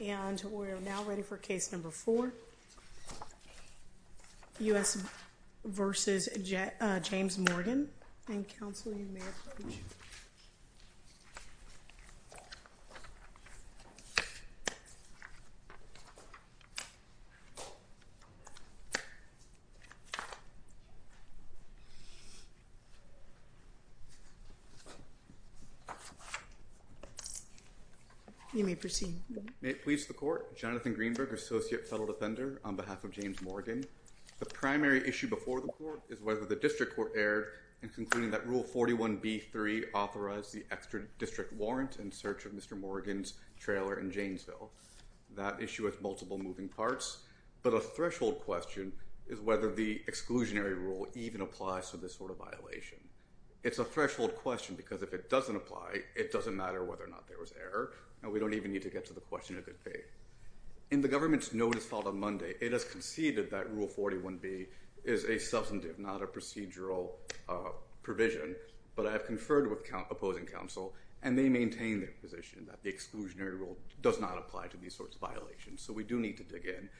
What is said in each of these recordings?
and we're now ready for case number four US versus James Morgan You may proceed. May it please the court. Jonathan Greenberg associate fellow defender on behalf of James Morgan. The primary issue before the court is whether the district court erred in concluding that rule 41b3 authorized the extra district warrant in search of Mr. Morgan's trailer in Janesville. That issue has multiple moving parts but a threshold question is whether the exclusionary rule even applies to this sort of violation. It's a threshold question because if it doesn't apply it doesn't matter whether or not there was error and we don't even need to get to the question of good faith. In the government's notice filed on Monday it has conceded that rule 41b is a substantive not a procedural provision but I've conferred with opposing counsel and they maintain their position that the exclusionary rule does not apply to these sorts of violations so we do need to dig in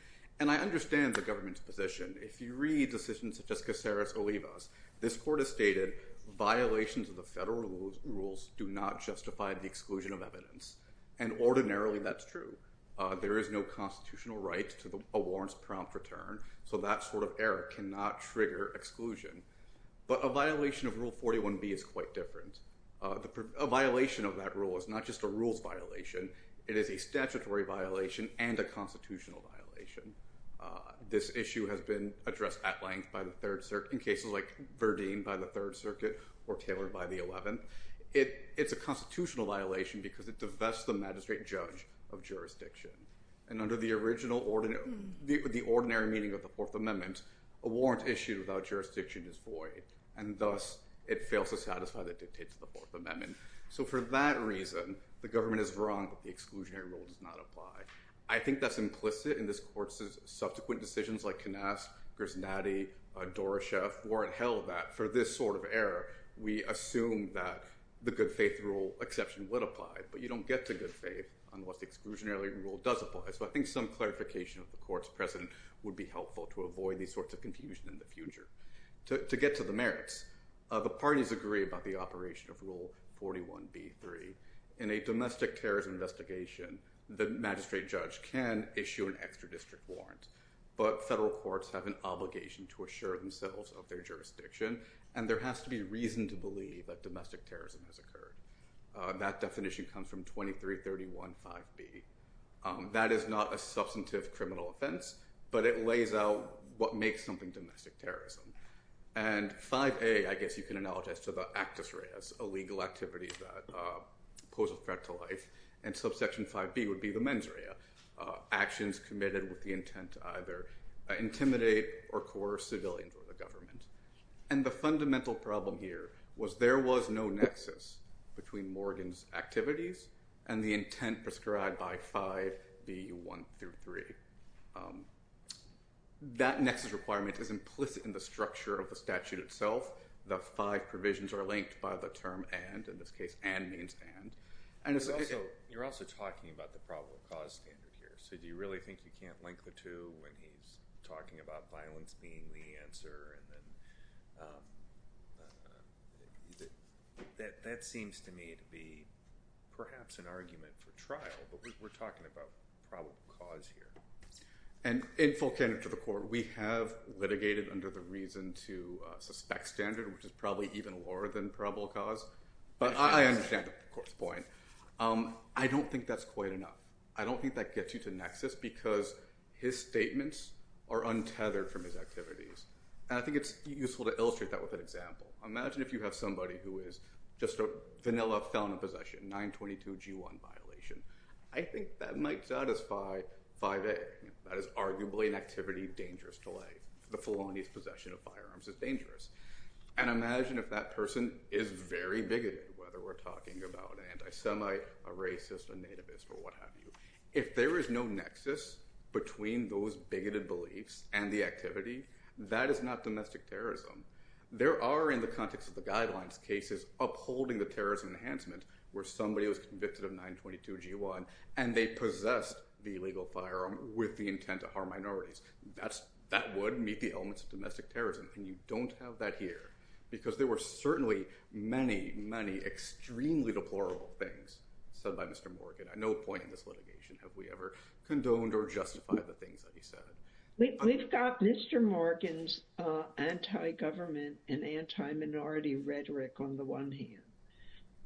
and I understand the government's position. If you read decisions such as Caceres Olivas this court has stated violations of the federal rules do not justify the exclusion of evidence and ordinarily that's true. There is no constitutional right to the warrants prompt return so that sort of error cannot trigger exclusion but a violation of rule 41b is quite different. A violation of that rule is not just a rules violation it is a statutory violation and a constitutional violation. This issue has been addressed at length by the third circuit in cases like Verdeen by the Third Circuit or Taylor by the 11th. It's a constitutional violation because it divests the magistrate judge of jurisdiction and under the original order the ordinary meaning of the Fourth Amendment a warrant issued without jurisdiction is void and thus it fails to satisfy the dictates of the Fourth Amendment. So for that reason the government is wrong that the exclusionary rule does not apply. I think that's implicit in this court's subsequent decisions like Canask, Grisnadi, Doroshev weren't held that for this sort of error we assume that the good faith rule exception would apply but you don't get to good faith unless the exclusionary rule does apply. So I think some clarification of the court's precedent would be helpful to avoid these sorts of confusion in the future. To get to the merits, the parties agree about the operation of rule 41b-3. In a domestic terrorism investigation the magistrate judge can issue an extra district warrant but federal courts have an obligation to assure themselves of their jurisdiction and there has to be reason to believe that domestic That is not a substantive criminal offense but it lays out what makes something domestic terrorism and 5a I guess you can analogize to the actus reas, a legal activity that pose a threat to life and subsection 5b would be the mens rea, actions committed with the intent to either intimidate or coerce civilians or the government. And the fundamental problem here was there was no nexus between Morgan's activities and the intent prescribed by 5b-1-3. That nexus requirement is implicit in the structure of the statute itself. The five provisions are linked by the term and in this case and means and and it's also you're also talking about the probable cause standard here so do you really think you can't link the two when he's talking about violence being the answer? That seems to me to be perhaps an argument for trial but we're talking about probable cause here. And in full candor to the court we have litigated under the reason to suspect standard which is probably even lower than probable cause but I understand the point. I don't think that's quite enough. I don't think that gets you to nexus because his statements are untethered from his activities. I think it's useful to illustrate that with an example. Imagine if you have somebody who is just a vanilla felon in possession 922 g1 violation. I think that might satisfy 5a. That is arguably an activity dangerous to life. The felonies possession of firearms is dangerous. And imagine if that person is very bigoted whether we're talking about anti-semi, a racist, a nativist or what have you. If there is no nexus between those bigoted beliefs and the activity that is not domestic terrorism. There are in the context of the guidelines cases upholding the terrorism enhancement where somebody was convicted of 922 g1 and they possessed the illegal firearm with the intent to harm minorities. That would meet the elements of domestic terrorism and you don't have that here because there were certainly many many extremely deplorable things said by Mr. Morgan. At no point in this Have we ever condoned or justified the things that he said? We've got Mr. Morgan's anti-government and anti-minority rhetoric on the one hand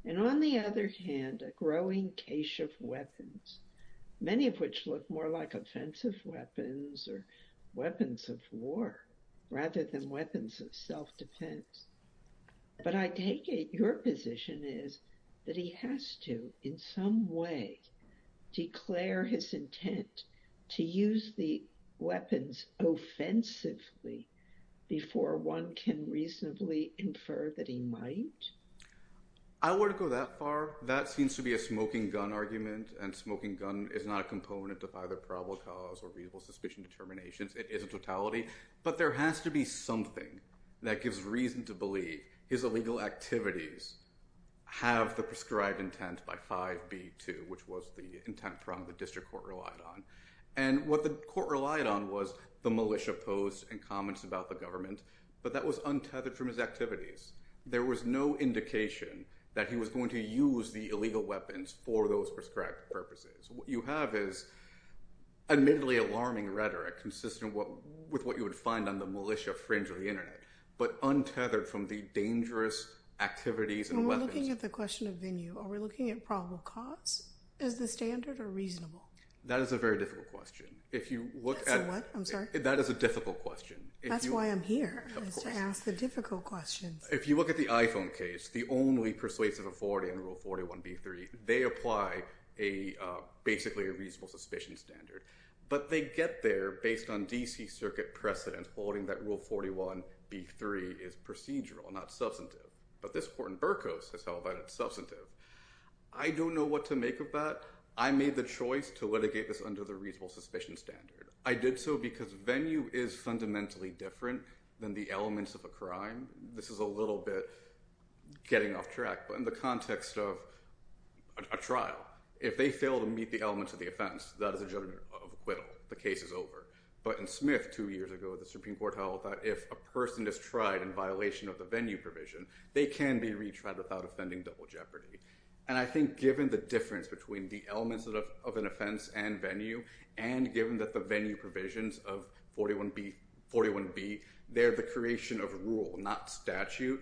and on the other hand a growing cache of weapons. Many of which look more like offensive weapons or weapons of war rather than weapons of self-defense. But I take it your position is that he has to in some way declare his intent to use the weapons offensively before one can reasonably infer that he might? I wouldn't go that far. That seems to be a smoking gun argument and smoking gun is not a component of either probable cause or reasonable suspicion determinations. It is a totality but there has to be something that gives reason to believe his illegal activities have the prescribed intent by 5b2 which was the intent from the district court relied on. And what the court relied on was the militia posts and comments about the government but that was untethered from his activities. There was no indication that he was going to use the illegal weapons for those prescribed purposes. What you have is admittedly alarming rhetoric consistent with what you would find on the militia fringe of the dangerous activities and weapons. When we're looking at the question of venue are we looking at probable cause as the standard or reasonable? That is a very difficult question. If you look at the iPhone case the only persuasive authority on rule 41b3 they apply a basically a reasonable suspicion standard but they get there based on DC substantive. But this court in Burkos has held that it's substantive. I don't know what to make of that. I made the choice to litigate this under the reasonable suspicion standard. I did so because venue is fundamentally different than the elements of a crime. This is a little bit getting off track but in the context of a trial if they fail to meet the elements of the offense that is a judgment of acquittal. The case is over. But in Smith two years ago the Supreme Court held that if a person is tried in violation of the venue provision they can be retried without offending double jeopardy. And I think given the difference between the elements of an offense and venue and given that the venue provisions of 41b, 41b they're the creation of rule not statute.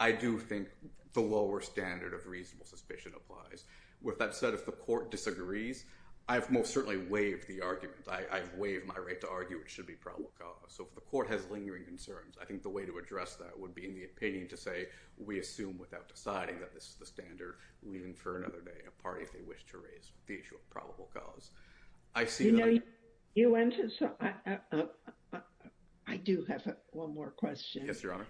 I do think the lower standard of reasonable suspicion applies. With that said if the court disagrees I've most certainly waived the argument. I've waived my right to argue it should be probable cause. So if the court has lingering concerns I think the way to address that would be in the opinion to say we assume without deciding that this is the standard we infer another day a party if they wish to raise the issue of probable cause. I see. You know you went to. So I do have one more question. Yes Your Honor.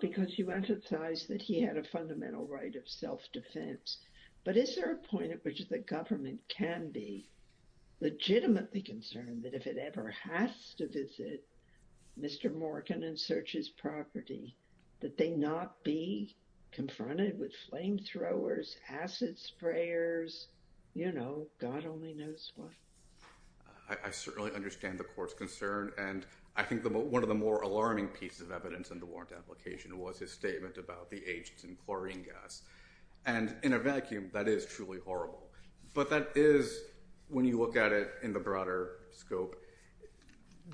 Because you emphasize that he had a fundamental right of self-defense. But is there a point at which the government can be legitimately concerned that if it ever has to visit Mr. Morgan and search his property that he's going to be charged with a crime. Would they not be confronted with flamethrowers acid sprayers. You know God only knows what. I certainly understand the court's concern. And I think one of the more alarming pieces of evidence in the warrant application was his statement about the agents and chlorine gas. And in a vacuum that is truly horrible. But that is when you look at it in the broader scope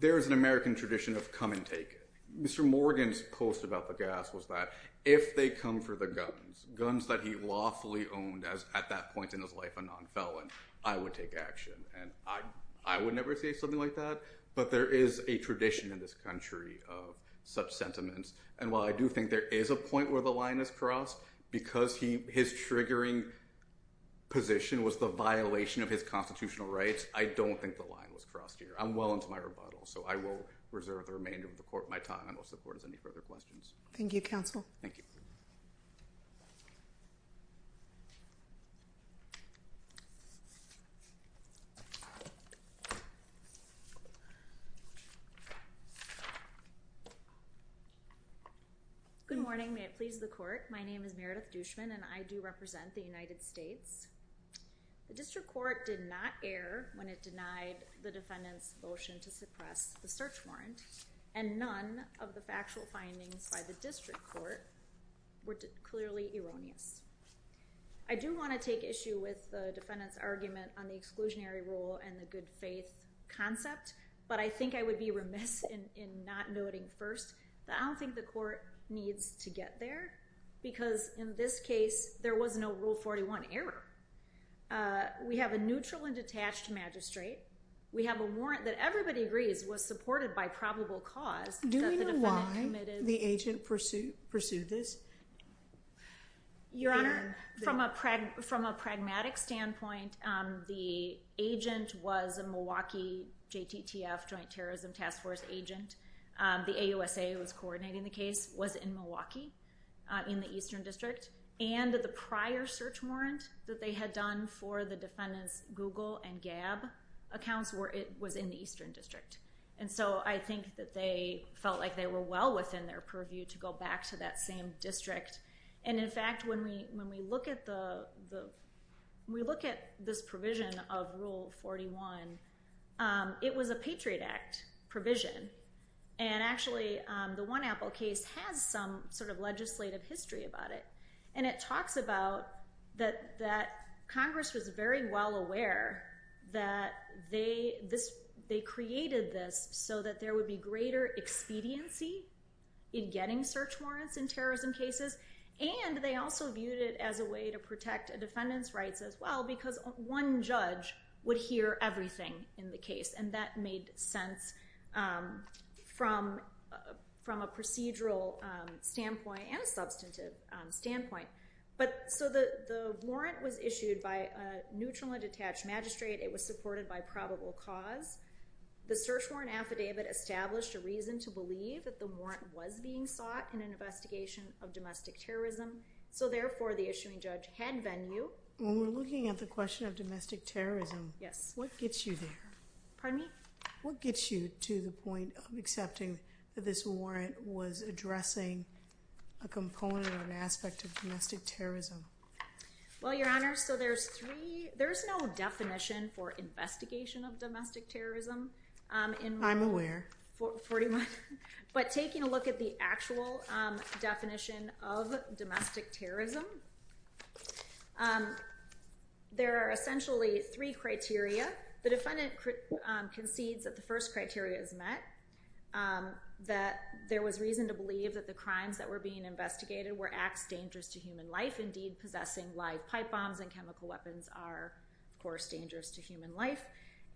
there is an American tradition of come and take Mr. Morgan's post about the gas. Was that if they come for the guns guns that he lawfully owned as at that point in his life a non felon I would take action. And I I would never say something like that. But there is a tradition in this country of such sentiments. And while I do think there is a point where the line is crossed because he his triggering position was the violation of his constitutional rights. I don't think the line was crossed here. I'm well into my rebuttal. So I will reserve the remainder of the court my time and will support any further questions. Thank you counsel. Thank you. Good morning. May it please the court. My name is Meredith Dushman and I do represent the United States. The district court did not error when it denied the defendant's motion to suppress the search warrant and none of the factual findings by the district court were determined to be true. Clearly erroneous. I do want to take issue with the defendant's argument on the exclusionary rule and the good faith concept. But I think I would be remiss in not noting first that I don't think the court needs to get there because in this case there was no rule 41 error. We have a neutral and detached magistrate. We have a warrant that everybody agrees was supported by probable cause. Do we know why the agent pursued this? Your Honor, from a pragmatic standpoint, the agent was a Milwaukee JTTF, Joint Terrorism Task Force agent. The AUSA was coordinating the case, was in Milwaukee in the Eastern District. And the prior search warrant that they had done for the defendants Google and Gab accounts was in the Eastern District. And so I think that they felt like they were well within their purview to go back to that same district. And in fact, when we look at this provision of Rule 41, it was a Patriot Act provision. And actually, the One Apple case has some sort of legislative history about it. And it talks about that Congress was very well aware that they created this so that there would be greater expediency in getting search warrants in terrorism cases. And they also viewed it as a way to protect a defendant's rights as well because one judge would hear everything in the case. And that made sense from a procedural standpoint and a substantive standpoint. So the warrant was issued by a neutrally detached magistrate. It was supported by probable cause. The search warrant affidavit established a reason to believe that the warrant was being sought in an investigation of domestic terrorism. So therefore, the issuing judge had venue. When we're looking at the question of domestic terrorism, what gets you there? Pardon me? What gets you to the point of accepting that this warrant was addressing a component or an aspect of domestic terrorism? Well, Your Honor, so there's no definition for investigation of domestic terrorism in Rule 41. But taking a look at the actual definition of domestic terrorism, there are essentially three criteria. The defendant concedes that the first criteria is met, that there was reason to believe that the crimes that were being investigated were acts dangerous to human life. Indeed, possessing live pipe bombs and chemical weapons are, of course, dangerous to human life.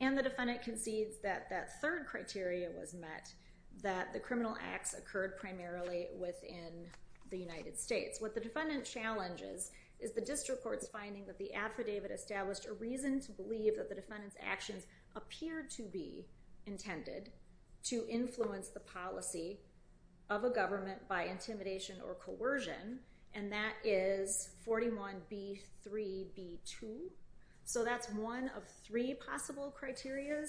And the defendant concedes that that third criteria was met, that the criminal acts occurred primarily within the United States. What the defendant challenges is the district court's finding that the affidavit established a reason to believe that the defendant's actions appeared to be intended to influence the policy of a government by intimidation or coercion. And that is 41B3B2. So that's one of three possible criterias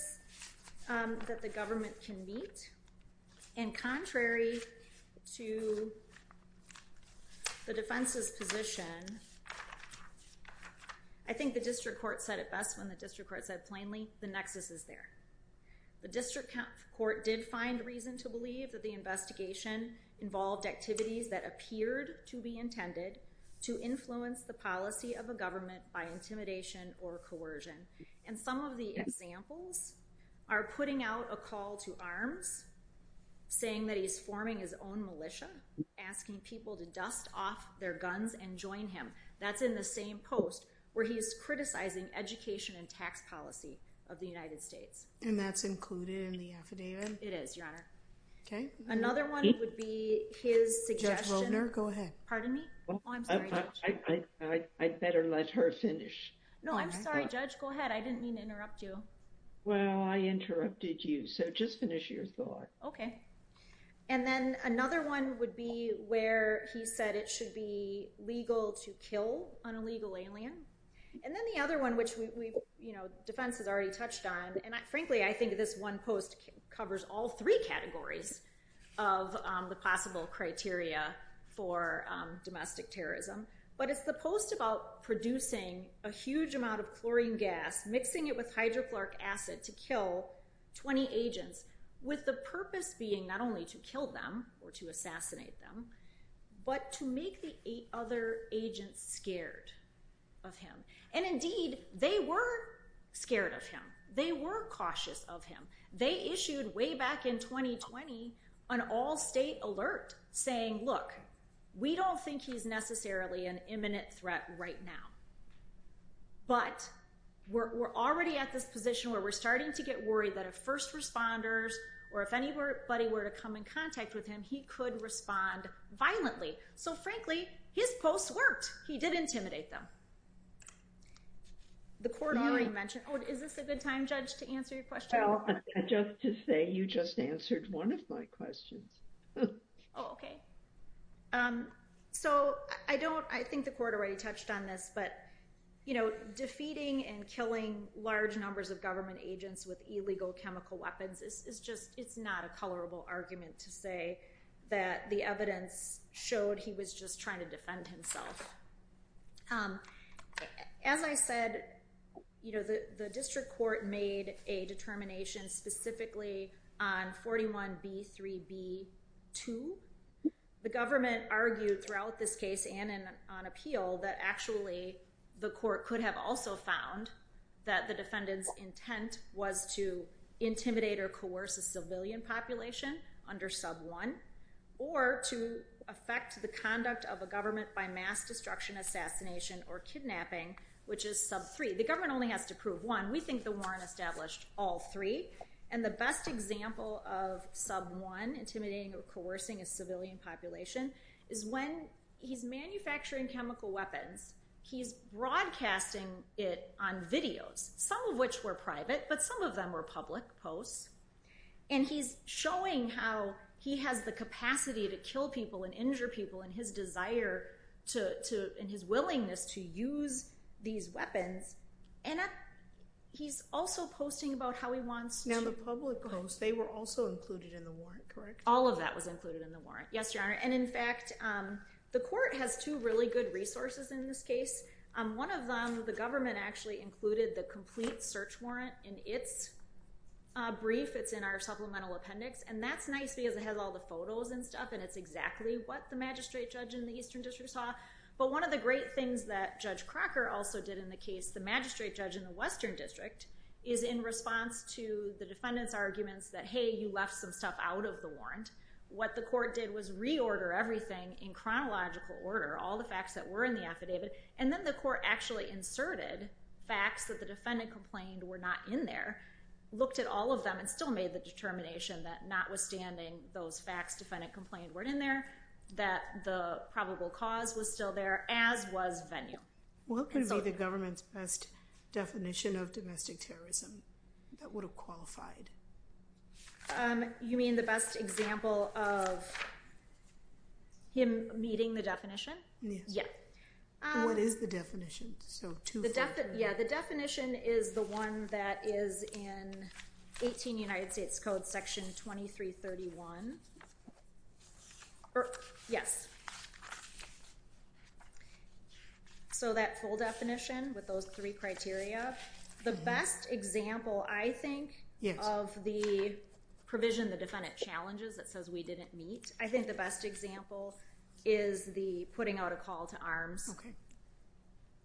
that the government can meet. And contrary to the defense's position, I think the district court said it best when the district court said plainly, the nexus is there. The district court did find reason to believe that the investigation involved activities that appeared to be intended to influence the policy of a government by intimidation or coercion. And some of the examples are putting out a call to arms, saying that he's forming his own militia, asking people to dust off their guns and join him. That's in the same post where he's criticizing education and tax policy of the United States. And that's included in the affidavit? It is, Your Honor. Okay. Another one would be his suggestion. Judge Wovner, go ahead. Pardon me? I'd better let her finish. No, I'm sorry, Judge. Go ahead. I didn't mean to interrupt you. Well, I interrupted you, so just finish your thought. Okay. And then another one would be where he said it should be legal to kill an illegal alien. And then the other one, which Defense has already touched on, and frankly, I think this one post covers all three categories of the possible criteria for domestic terrorism. But it's the post about producing a huge amount of chlorine gas, mixing it with hydrochloric acid to kill 20 agents with the purpose being not only to kill them or to assassinate them, but to make the other agents scared of him. And indeed, they were scared of him. They were cautious of him. They issued way back in 2020 an all-state alert saying, look, we don't think he's necessarily an imminent threat right now. But we're already at this position where we're starting to get worried that if first responders or if anybody were to come in contact with him, he could respond violently. So, frankly, his posts worked. He did intimidate them. The court already mentioned. Oh, is this a good time, Judge, to answer your question? Well, just to say you just answered one of my questions. Oh, okay. So I think the court already touched on this, but defeating and killing large numbers of government agents with illegal chemical weapons is just not a colorable argument to say that the evidence showed he was just trying to defend himself. As I said, the district court made a determination specifically on 41B3B2. The government argued throughout this case and on appeal that actually the court could have also found that the defendant's intent was to intimidate or coerce a civilian population under sub-1 or to affect the conduct of a government by mass destruction, assassination, or kidnapping, which is sub-3. The government only has to prove one. We think the warrant established all three. And the best example of sub-1 intimidating or coercing a civilian population is when he's manufacturing chemical weapons, he's broadcasting it on videos, some of which were private, but some of them were public posts. And he's showing how he has the capacity to kill people and injure people and his desire and his willingness to use these weapons. And he's also posting about how he wants to- Now, the public posts, they were also included in the warrant, correct? All of that was included in the warrant. Yes, Your Honor. And in fact, the court has two really good resources in this case. One of them, the government actually included the complete search warrant in its brief. It's in our supplemental appendix. And that's nice because it has all the photos and stuff, and it's exactly what the magistrate judge in the Eastern District saw. But one of the great things that Judge Crocker also did in the case, the magistrate judge in the Western District, is in response to the defendant's arguments that, hey, you left some stuff out of the warrant, what the court did was reorder everything in chronological order, all the facts that were in the affidavit. And then the court actually inserted facts that the defendant complained were not in there, looked at all of them, and still made the determination that notwithstanding those facts, defendant complained weren't in there, that the probable cause was still there, as was venue. What could be the government's best definition of domestic terrorism that would have qualified? You mean the best example of him meeting the definition? Yes. What is the definition? Yeah, the definition is the one that is in 18 United States Code section 2331. Yes. So that full definition with those three criteria. The best example, I think, of the provision the defendant challenges that says we didn't meet, I think the best example is the putting out a call to arms. OK.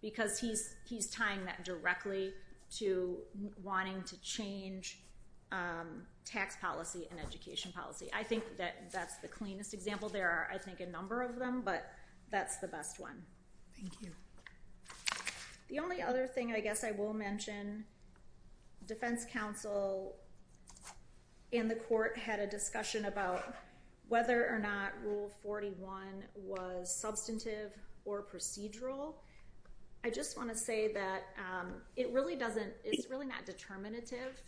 Because he's tying that directly to wanting to change tax policy and education policy. I think that that's the cleanest example. There are, I think, a number of them, but that's the best one. Thank you. The only other thing I guess I will mention, defense counsel in the court had a discussion about whether or not Rule 41 was substantive or procedural. I just want to say that it really doesn't, it's really not determinative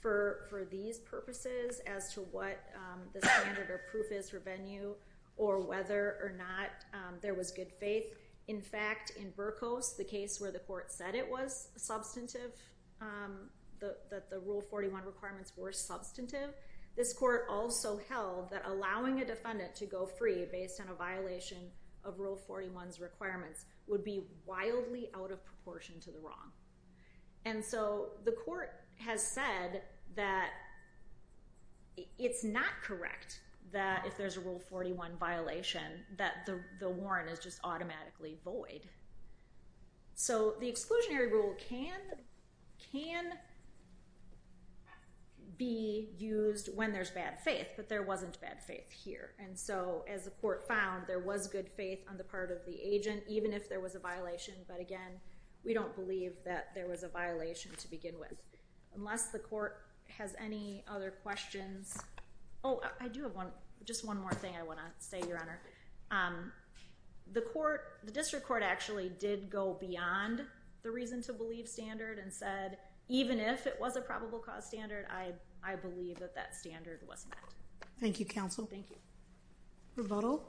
for these purposes as to what the standard or proof is for venue or whether or not there was good faith. In fact, in Burkos, the case where the court said it was substantive, that the Rule 41 requirements were substantive, this court also held that allowing a defendant to go free based on a violation of Rule 41's requirements would be wildly out of proportion to the wrong. And so the court has said that it's not correct that if there's a Rule 41 violation that the warrant is just automatically void. So the exclusionary rule can be used when there's bad faith, but there wasn't bad faith here. And so as the court found, there was good faith on the part of the agent, even if there was a violation. But again, we don't believe that there was a violation to begin with. Unless the court has any other questions. Oh, I do have one, just one more thing I want to say, Your Honor. The court, the district court actually did go beyond the reason to believe standard and said, even if it was a probable cause standard, I believe that that standard was met. Thank you, counsel. Thank you. Rebuttal.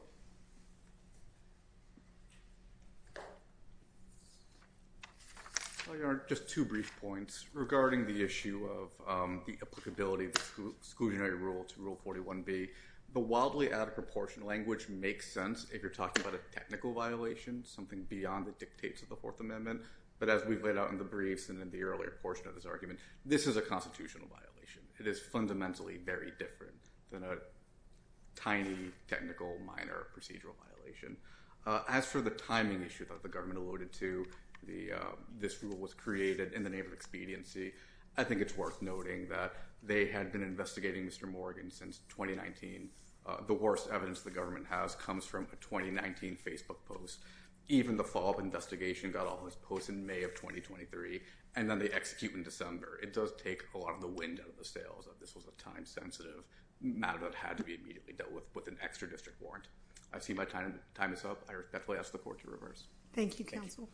Your Honor, just two brief points regarding the issue of the applicability of the exclusionary rule to Rule 41B. The wildly out of proportion language makes sense if you're talking about a technical violation, something beyond the dictates of the Fourth Amendment. But as we've laid out in the briefs and in the earlier portion of this argument, this is a constitutional violation. It is fundamentally very different than a tiny, technical, minor procedural violation. As for the timing issue that the government alluded to, this rule was created in the name of expediency. I think it's worth noting that they had been investigating Mr. Morgan since 2019. The worst evidence the government has comes from a 2019 Facebook post. Even the follow-up investigation got all those posts in May of 2023, and then they execute in December. It does take a lot of the wind out of the sails that this was a time-sensitive matter that had to be immediately dealt with with an extra district warrant. I see my time is up. I respectfully ask the court to reverse. Thank you, counsel.